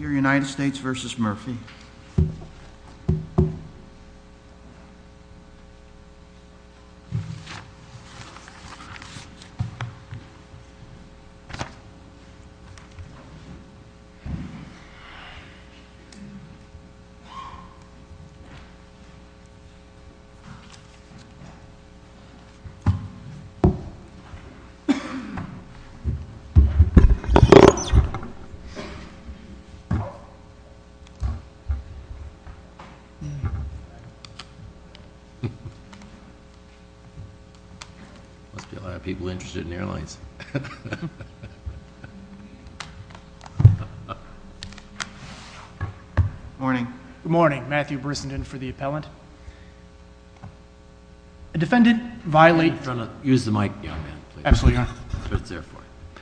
United States versus Murphy. Good morning, Matthew Brissenden for the appellant. A defendant violates. Use the mic young man. Absolutely.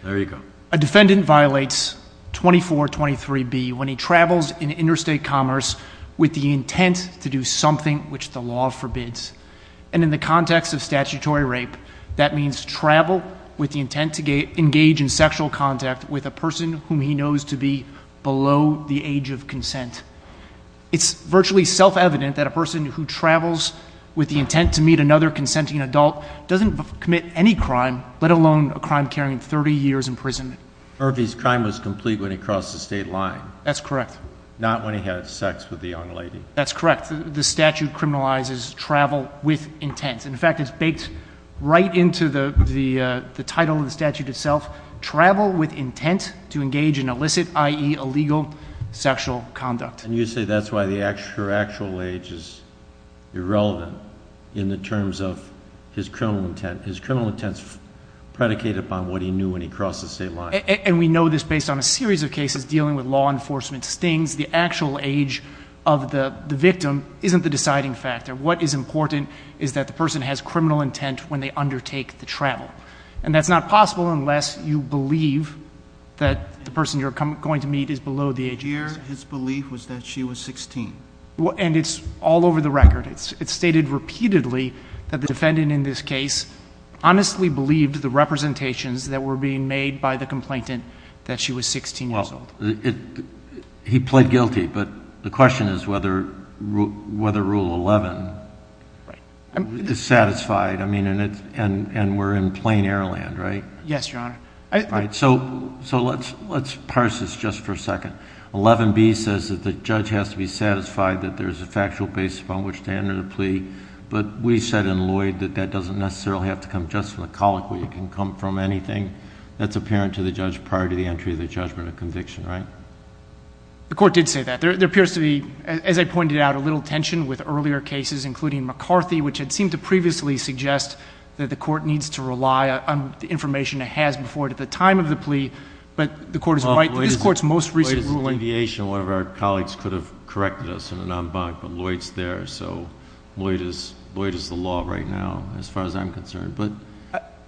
There you go. A defendant violates 2423B when he travels in interstate commerce with the intent to do something which the law forbids. And in the context of statutory rape, that means travel with the intent to engage in sexual contact with a person whom he knows to be below the age of consent. It's virtually self-evident that a person who travels with the intent to meet another Murphy's crime was complete when he crossed the state line. That's correct. Not when he had sex with the young lady. That's correct. The statute criminalizes travel with intent. In fact, it's baked right into the title of the statute itself. Travel with intent to engage in illicit, i.e. illegal sexual conduct. And you say that's why the actual age is irrelevant in the terms of his criminal intent. His criminal intent is predicated upon what he knew when he crossed the state line. And we know this based on a series of cases dealing with law enforcement stings. The actual age of the victim isn't the deciding factor. What is important is that the person has criminal intent when they undertake the travel. And that's not possible unless you believe that the person you're going to meet is below the age of consent. Here, his belief was that she was 16. And it's all over the record. It's stated repeatedly that the defendant in this case honestly believed the representations that were being made by the complainant that she was 16 years old. He pled guilty. But the question is whether Rule 11 is satisfied. And we're in plain air land, right? Yes, Your Honor. So let's parse this just for a second. 11B says that the judge has to be satisfied that there's a factual basis upon which to enter the plea. But we said in Lloyd that that doesn't necessarily have to come just from the colloquy. It can come from anything that's apparent to the judge prior to the entry of the judgment of conviction, right? The court did say that. There appears to be, as I pointed out, a little tension with earlier cases, including McCarthy, which had seemed to previously suggest that the court needs to rely on the information it has before it at the time of the plea. But the court is right. In this court's most recent ruling— Lloyd's deviation, one of our colleagues could have corrected us in an en banc, but Lloyd's there, so Lloyd is the law right now as far as I'm concerned. But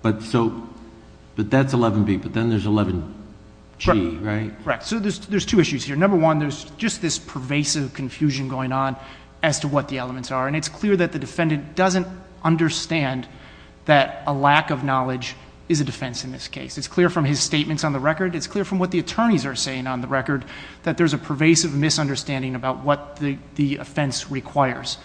that's 11B, but then there's 11G, right? Correct. So there's two issues here. Number one, there's just this pervasive confusion going on as to what the elements are. And it's clear that the defendant doesn't understand that a lack of knowledge is a defense in this case. It's clear from his statements on the record. It's clear from what the attorneys are saying on the record that there's a pervasive misunderstanding about what the offense requires.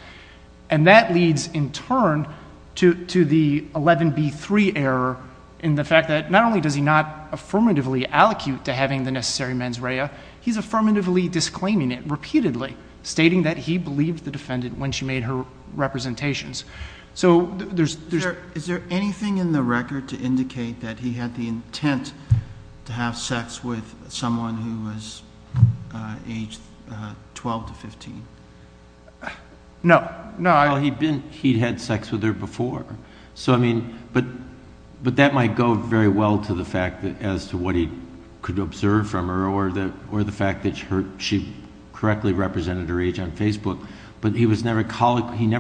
And that leads, in turn, to the 11B3 error in the fact that not only does he not affirmatively allocute to having the necessary mens rea, he's affirmatively disclaiming it repeatedly, stating that he believed the defendant when she made her representations. So there's— Is there anything in the record to indicate that he had the intent to have sex with someone who was age 12 to 15? No. No, I— Well, he'd had sex with her before. So I mean, but that might go very well to the fact as to what he could observe from her or the fact that she correctly represented her age on Facebook, but he never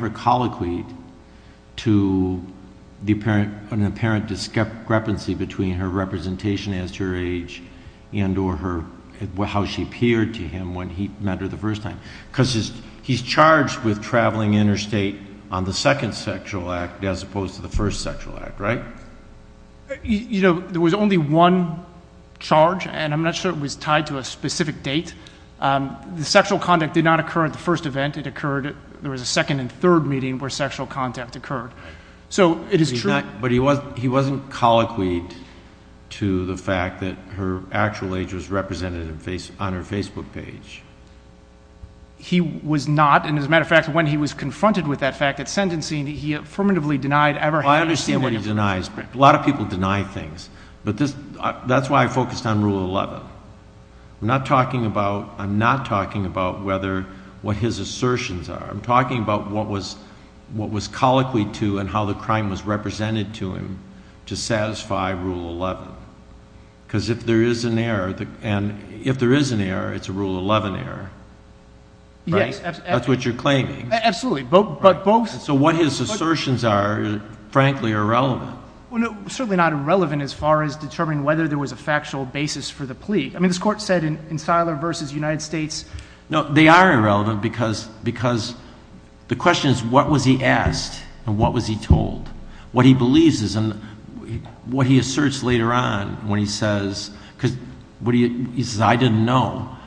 colloquied to the apparent—an apparent discrepancy between her representation as her age and or her—how she appeared to him when he met her the first time, because he's charged with traveling interstate on the second sexual act as opposed to the first sexual act, right? You know, there was only one charge, and I'm not sure it was tied to a specific date. The sexual conduct did not occur at the first event. It occurred—there was a second and third meeting where sexual contact occurred. So it is true— But he wasn't—he wasn't colloquied to the fact that her actual age was represented on her Facebook page. He was not. And as a matter of fact, when he was confronted with that fact at sentencing, he affirmatively denied ever having— Well, I understand what he denies. A lot of people deny things, but this—that's why I focused on Rule 11. I'm not talking about—I'm not talking about whether—what his assertions are. I'm talking about what was—what was colloquied to and how the crime was represented to him to satisfy Rule 11. Because if there is an error—and if there is an error, it's a Rule 11 error, right? Yes, absolutely. That's what you're claiming. Absolutely. But both— So what his assertions are, frankly, are irrelevant. Well, no, certainly not irrelevant as far as determining whether there was a factual basis for the plea. I mean, this Court said in Seiler v. United States— No, they are irrelevant because—because the question is, what was he asked and what was he told? What he believes is—and what he asserts later on when he says—because what he—he says, I didn't know.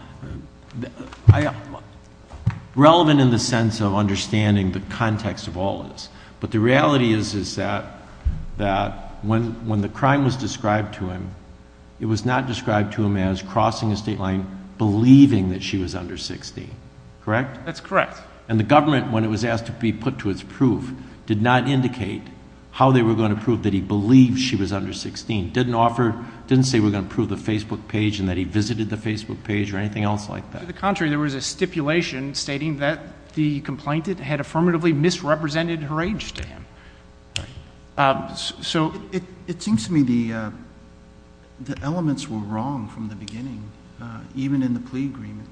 Relevant in the sense of understanding the context of all this. But the reality is, is that—that when—when the crime was described to him, it was not described to him as crossing a state line, believing that she was under 16, correct? That's correct. And the government, when it was asked to be put to its proof, did not indicate how they were going to prove that he believed she was under 16. Didn't offer—didn't say we're going to prove the Facebook page and that he visited the Facebook page or anything else like that. To the contrary, there was a stipulation stating that the complainant had affirmatively misrepresented her age to him. So— It seems to me the—the elements were wrong from the beginning, even in the plea agreement.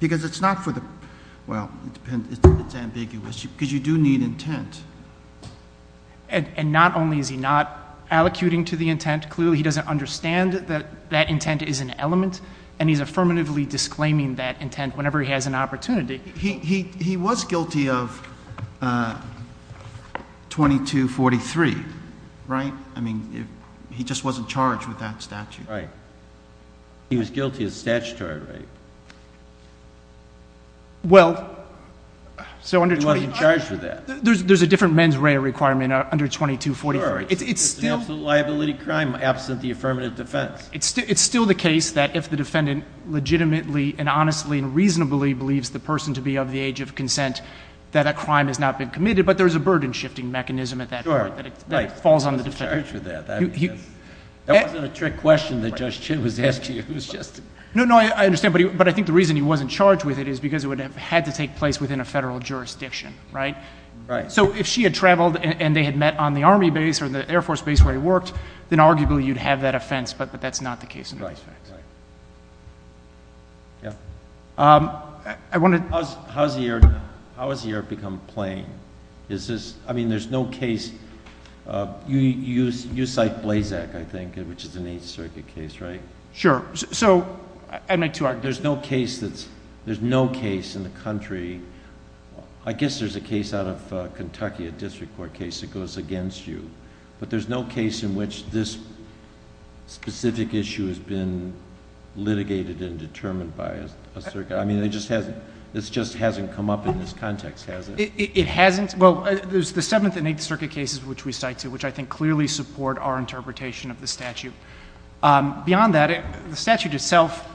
Because it's not for the—well, it depends—it's ambiguous because you do need intent. And not only is he not allocuting to the intent, clearly he doesn't understand that that intent is an element, and he's affirmatively disclaiming that intent whenever he has an opportunity. He was guilty of 2243, right? I mean, he just wasn't charged with that statute. Right. He was guilty of statutory rape. Well, so under 22— He wasn't charged with that. There's a different mens rea requirement under 2243. Sure. It's still— It's an absolute liability crime absent the affirmative defense. It's still the case that if the defendant legitimately and honestly and reasonably believes the person to be of the age of consent, that a crime has not been committed. But there's a burden-shifting mechanism at that point that falls on the defendant. Right. He wasn't charged with that. That wasn't a trick question that Judge Chin was asking. It was just— No, no, I understand. But he—but I think the reason he wasn't charged with it is because it would have had to take place within a federal jurisdiction, right? Right. So if she had traveled and they had met on the Army base or the Air Force base where he worked, then arguably you'd have that offense. But that's not the case in this case. Right. Right. Yeah. I wanted— How has the error become plain? Is this—I mean, there's no case—you cite Blazak, I think, which is an Eighth Circuit case, right? Sure. So I make two arguments. There's no case that's—there's no case in the country—I guess there's a case out of Kentucky, a district court case that goes against you, but there's no case in which this specific issue has been litigated and determined by a circuit. I mean, it just hasn't—this just hasn't come up in this context, has it? It hasn't. Well, there's the Seventh and Eighth Circuit cases which we cite, too, which I think clearly support our interpretation of the statute. Beyond that, the statute itself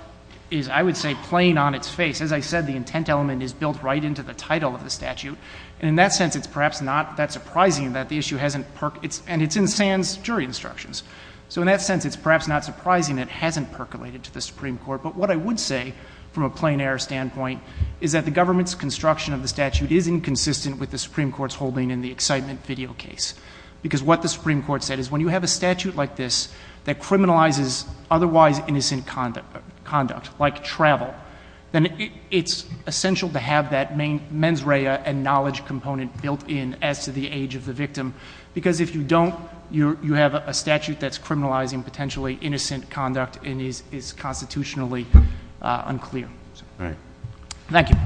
is, I would say, plain on its face. As I said, the intent element is built right into the title of the statute. And in that sense, it's perhaps not that surprising that the issue hasn't—and it's in Sands' jury instructions. So in that sense, it's perhaps not surprising that it hasn't percolated to the Supreme Court. But what I would say, from a plain-error standpoint, is that the government's construction of the statute is inconsistent with the Supreme Court's holding in the excitement video case, because what the Supreme Court said is when you have a statute like this that criminalizes otherwise innocent conduct, like travel, then it's essential to have that mens rea and knowledge component built in as to the age of the victim, because if you don't, you have a statute that's criminalizing potentially innocent conduct and is constitutionally unclear. All right. Thank you.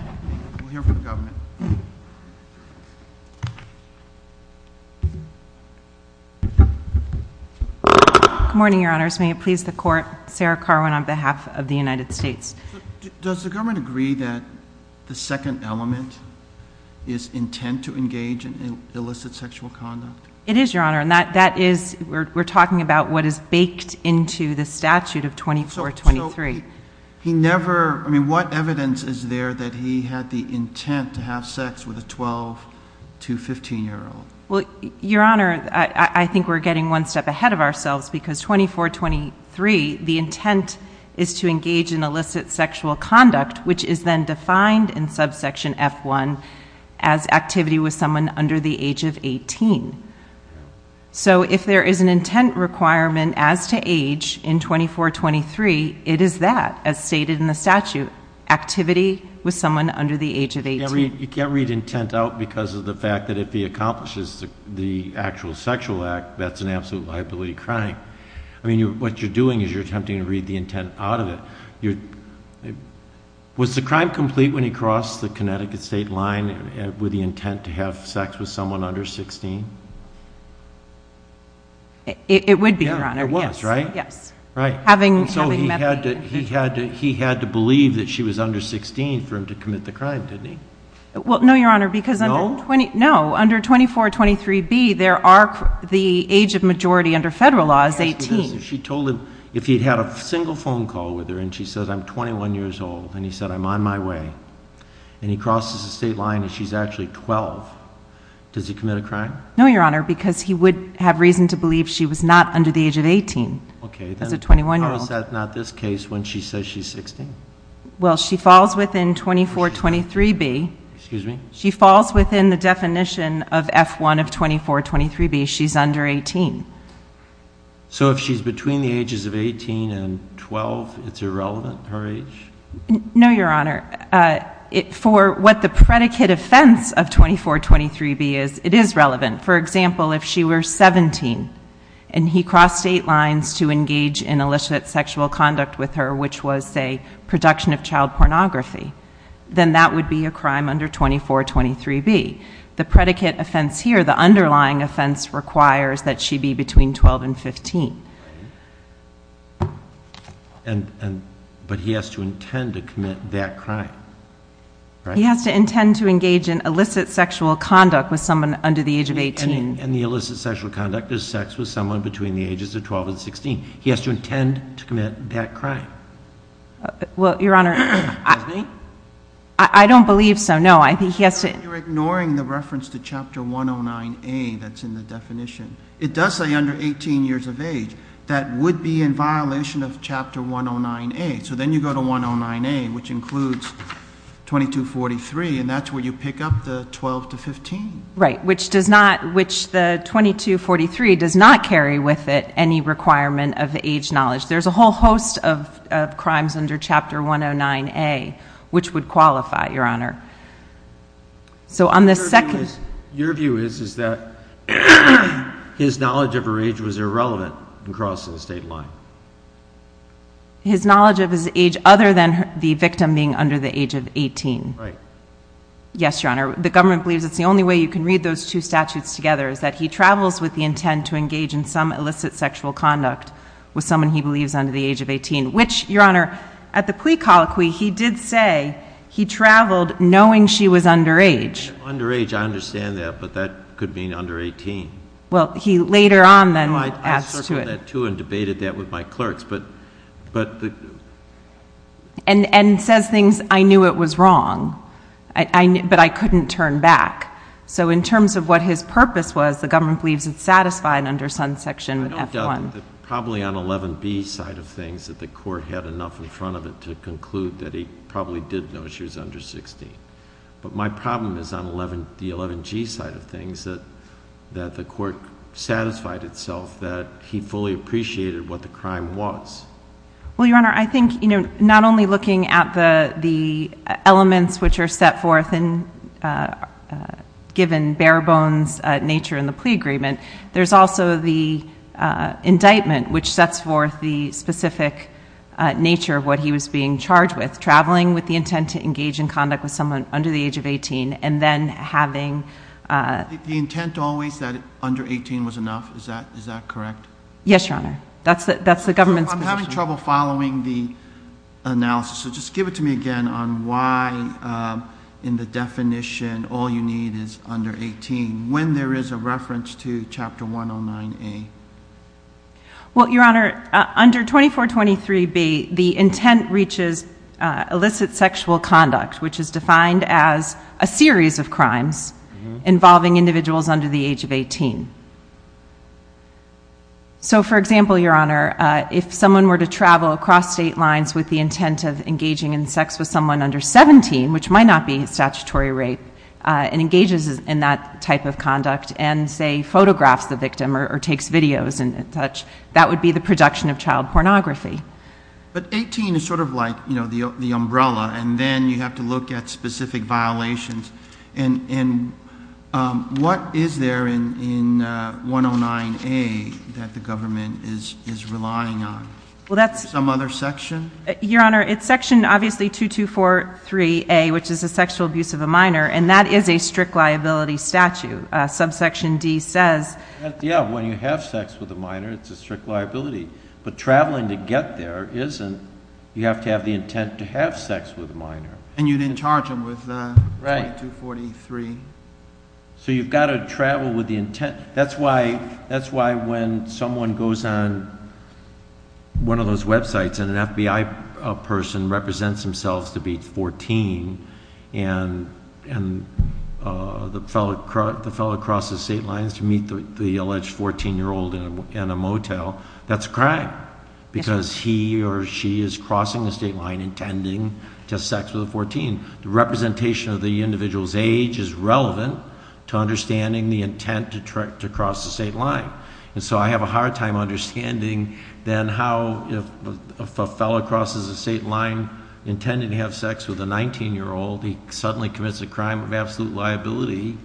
We'll hear from the government. Good morning, Your Honors. May it please the Court, Sarah Carwin on behalf of the United States. Does the government agree that the second element is intent to engage in illicit sexual conduct? It is, Your Honor. And that is—we're talking about what is baked into the statute of 2423. So he never—I mean, what evidence is there that he had the intent to have sex with a 12- to 15-year-old? Well, Your Honor, I think we're getting one step ahead of ourselves, because 2423, the intent is to engage in illicit sexual conduct, which is then defined in subsection F1 as activity with someone under the age of 18. So if there is an intent requirement as to age in 2423, it is that, as stated in the statute, activity with someone under the age of 18. You can't read intent out because of the fact that if he accomplishes the actual sexual act, that's an absolute liability crime. I mean, what you're doing is you're attempting to read the intent out of it. Was the crime complete when he crossed the Connecticut state line with the intent to have sex with someone under 16? It would be, Your Honor. It was, right? Yes. Right. Having met the— So he had to believe that she was under 16 for him to commit the crime, didn't he? Well, no, Your Honor, because— No? Under 2423B, the age of majority under federal law is 18. She told him if he had a single phone call with her and she said, I'm 21 years old, and he said, I'm on my way, and he crosses the state line and she's actually 12, does he commit a crime? No, Your Honor, because he would have reason to believe she was not under the age of 18 as a 21-year-old. How is that not this case when she says she's 16? Well, she falls within 2423B. Excuse me? She falls within the definition of F1 of 2423B. She's under 18. So if she's between the ages of 18 and 12, it's irrelevant, her age? No, Your Honor. For what the predicate offense of 2423B is, it is relevant. For example, if she were 17 and he crossed state lines to engage in illicit sexual conduct with her, which was, say, production of child pornography, then that would be a crime under 2423B. The predicate offense here, the underlying offense, requires that she be between 12 and 15. But he has to intend to commit that crime, right? He has to intend to engage in illicit sexual conduct with someone under the age of 18. And the illicit sexual conduct is sex with someone between the ages of 12 and 16. He has to intend to commit that crime. Well, Your Honor, I don't believe so. No, I think he has to. You're ignoring the reference to Chapter 109A that's in the definition. It does say under 18 years of age. That would be in violation of Chapter 109A. So then you go to 109A, which includes 2243, and that's where you pick up the 12 to 15. Right, which the 2243 does not carry with it any requirement of age knowledge. There's a whole host of crimes under Chapter 109A which would qualify, Your Honor. Your view is that his knowledge of her age was irrelevant in crossing the state line. His knowledge of his age other than the victim being under the age of 18. Right. Yes, Your Honor, the government believes it's the only way you can read those two statutes together is that he travels with the intent to engage in some illicit sexual conduct with someone he believes under the age of 18, which, Your Honor, at the plea colloquy, he did say he traveled knowing she was under age. Under age, I understand that, but that could mean under 18. Well, he later on then adds to it. I circled that, too, and debated that with my clerks. And says things, I knew it was wrong, but I couldn't turn back. So in terms of what his purpose was, the government believes it's satisfied under Sun Section F1. I don't doubt that. Probably on 11B side of things that the court had enough in front of it to conclude that he probably did know she was under 16. But my problem is on the 11G side of things that the court satisfied itself that he fully appreciated what the crime was. Well, Your Honor, I think not only looking at the elements which are set forth and given bare bones nature in the plea agreement, there's also the indictment which sets forth the specific nature of what he was being charged with, traveling with the intent to engage in conduct with someone under the age of 18, and then having... The intent always that under 18 was enough, is that correct? Yes, Your Honor. That's the government's position. I'm having trouble following the analysis, so just give it to me again on why in the definition all you need is under 18, when there is a reference to Chapter 109A. Well, Your Honor, under 2423B, the intent reaches illicit sexual conduct, which is defined as a series of crimes involving individuals under the age of 18. So for example, Your Honor, if someone were to travel across state lines with the intent of engaging in sex with someone under 17, which might not be statutory rape, and engages in that type of conduct and, say, photographs the victim or takes videos and such, that would be the production of child pornography. But 18 is sort of like the umbrella, and then you have to look at specific violations. And what is there in 109A that the government is relying on? Well, that's... Some other section? Your Honor, it's section obviously 2243A, which is the sexual abuse of a minor, and that is a strict liability statute. Subsection D says... Yeah, when you have sex with a minor, it's a strict liability. But traveling to get there isn't. You have to have the intent to have sex with a minor. And you didn't charge them with 2243. Right. So you've got to travel with the intent. That's why when someone goes on one of those websites and an FBI person represents themselves to be 14 and the fellow crosses state lines to meet the alleged 14-year-old in a motel, that's a crime because he or she is crossing the state line intending to have sex with a 14. The representation of the individual's age is relevant to understanding the intent to cross the state line. And so I have a hard time understanding then how if a fellow crosses the state line intending to have sex with a 19-year-old, he suddenly commits a crime of absolute liability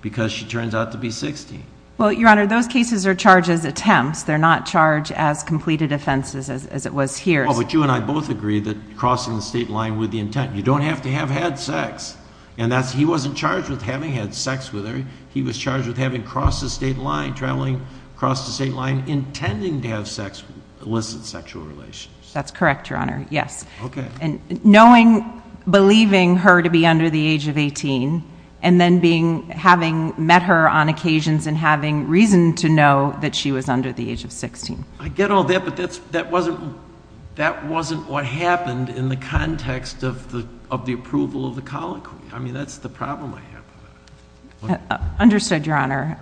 because she turns out to be 60. Well, Your Honor, those cases are charged as attempts. They're not charged as completed offenses as it was here. Well, but you and I both agree that crossing the state line with the intent. You don't have to have had sex. And he wasn't charged with having had sex with her. He was charged with having crossed the state line, traveling across the state line, intending to have sex, elicit sexual relations. That's correct, Your Honor, yes. Okay. And knowing, believing her to be under the age of 18 and then having met her on occasions and having reason to know that she was under the age of 16. I get all that, but that wasn't what happened in the context of the approval of the colloquy. I mean, that's the problem I have. Understood, Your Honor.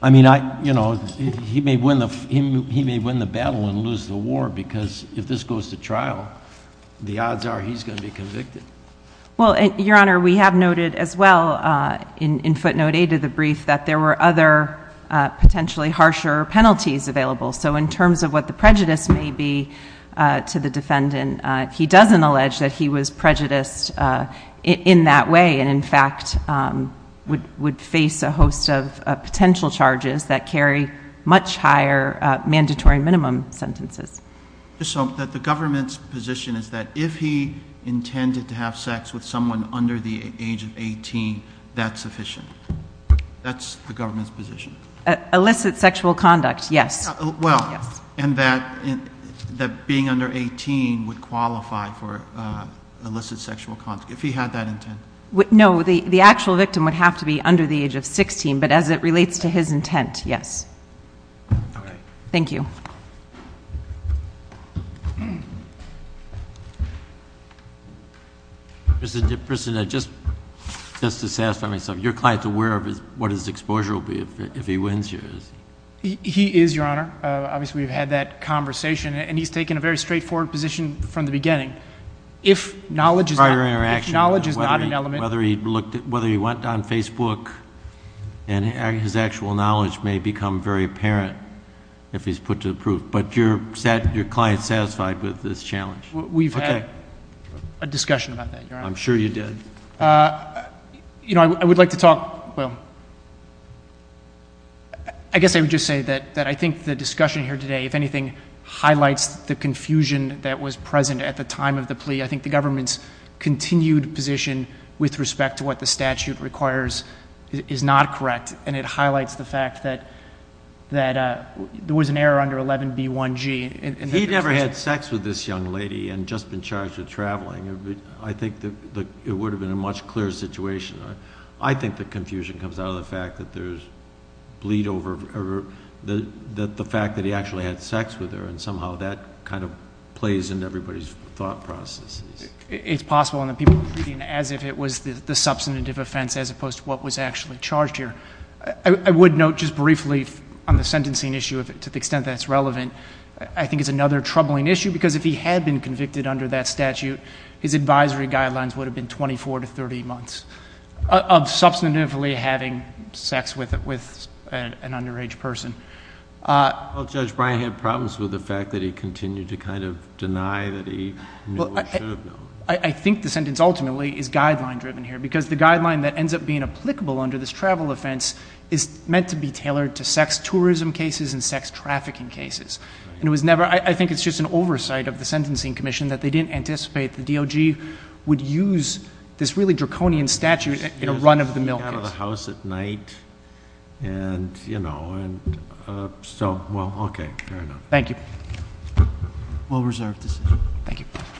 I mean, you know, he may win the battle and lose the war because if this goes to trial, the odds are he's going to be convicted. Well, Your Honor, we have noted as well in footnote A to the brief that there were other potentially harsher penalties available. So in terms of what the prejudice may be to the defendant, he doesn't allege that he was prejudiced in that way and, in fact, would face a host of potential charges that carry much higher mandatory minimum sentences. The government's position is that if he intended to have sex with someone under the age of 18, that's sufficient. That's the government's position. Illicit sexual conduct, yes. Well, and that being under 18 would qualify for illicit sexual conduct, if he had that intent. No, the actual victim would have to be under the age of 16, but as it relates to his intent, yes. Thank you. Mr. DePristina, just to satisfy myself, your client's aware of what his exposure will be if he wins yours? He is, Your Honor. Obviously, we've had that conversation, and he's taken a very straightforward position from the beginning. If knowledge is not an element... Prior interaction, whether he went on Facebook and his actual knowledge may become very apparent if he's put to the proof. But your client's satisfied with this challenge? We've had a discussion about that, Your Honor. I'm sure you did. You know, I would like to talk... well, I guess I would just say that I think the discussion here today, if anything, highlights the confusion that was present at the time of the plea. I think the government's continued position with respect to what the statute requires is not correct, and it highlights the fact that there was an error under 11b1g. He never had sex with this young lady and just been charged with traveling. I think it would have been a much clearer situation. I think the confusion comes out of the fact that there's bleed over... the fact that he actually had sex with her, and somehow that kind of plays into everybody's thought processes. It's possible, and the people are treating it as if it was the substantive offense as opposed to what was actually charged here. I would note just briefly on the sentencing issue, to the extent that it's relevant, I think it's another troubling issue because if he had been convicted under that statute, his advisory guidelines would have been 24 to 30 months of substantively having sex with an underage person. Well, Judge Bryan had problems with the fact that he continued to kind of deny that he knew what he should have known. I think the sentence ultimately is guideline-driven here, because the guideline that ends up being applicable under this travel offense is meant to be tailored to sex tourism cases and sex trafficking cases. I think it's just an oversight of the Sentencing Commission that they didn't anticipate the DOJ would use this really draconian statute in a run-of-the-mill case. He got out of the house at night, and so, well, okay, fair enough. Thank you. Well-reserved decision. Thank you.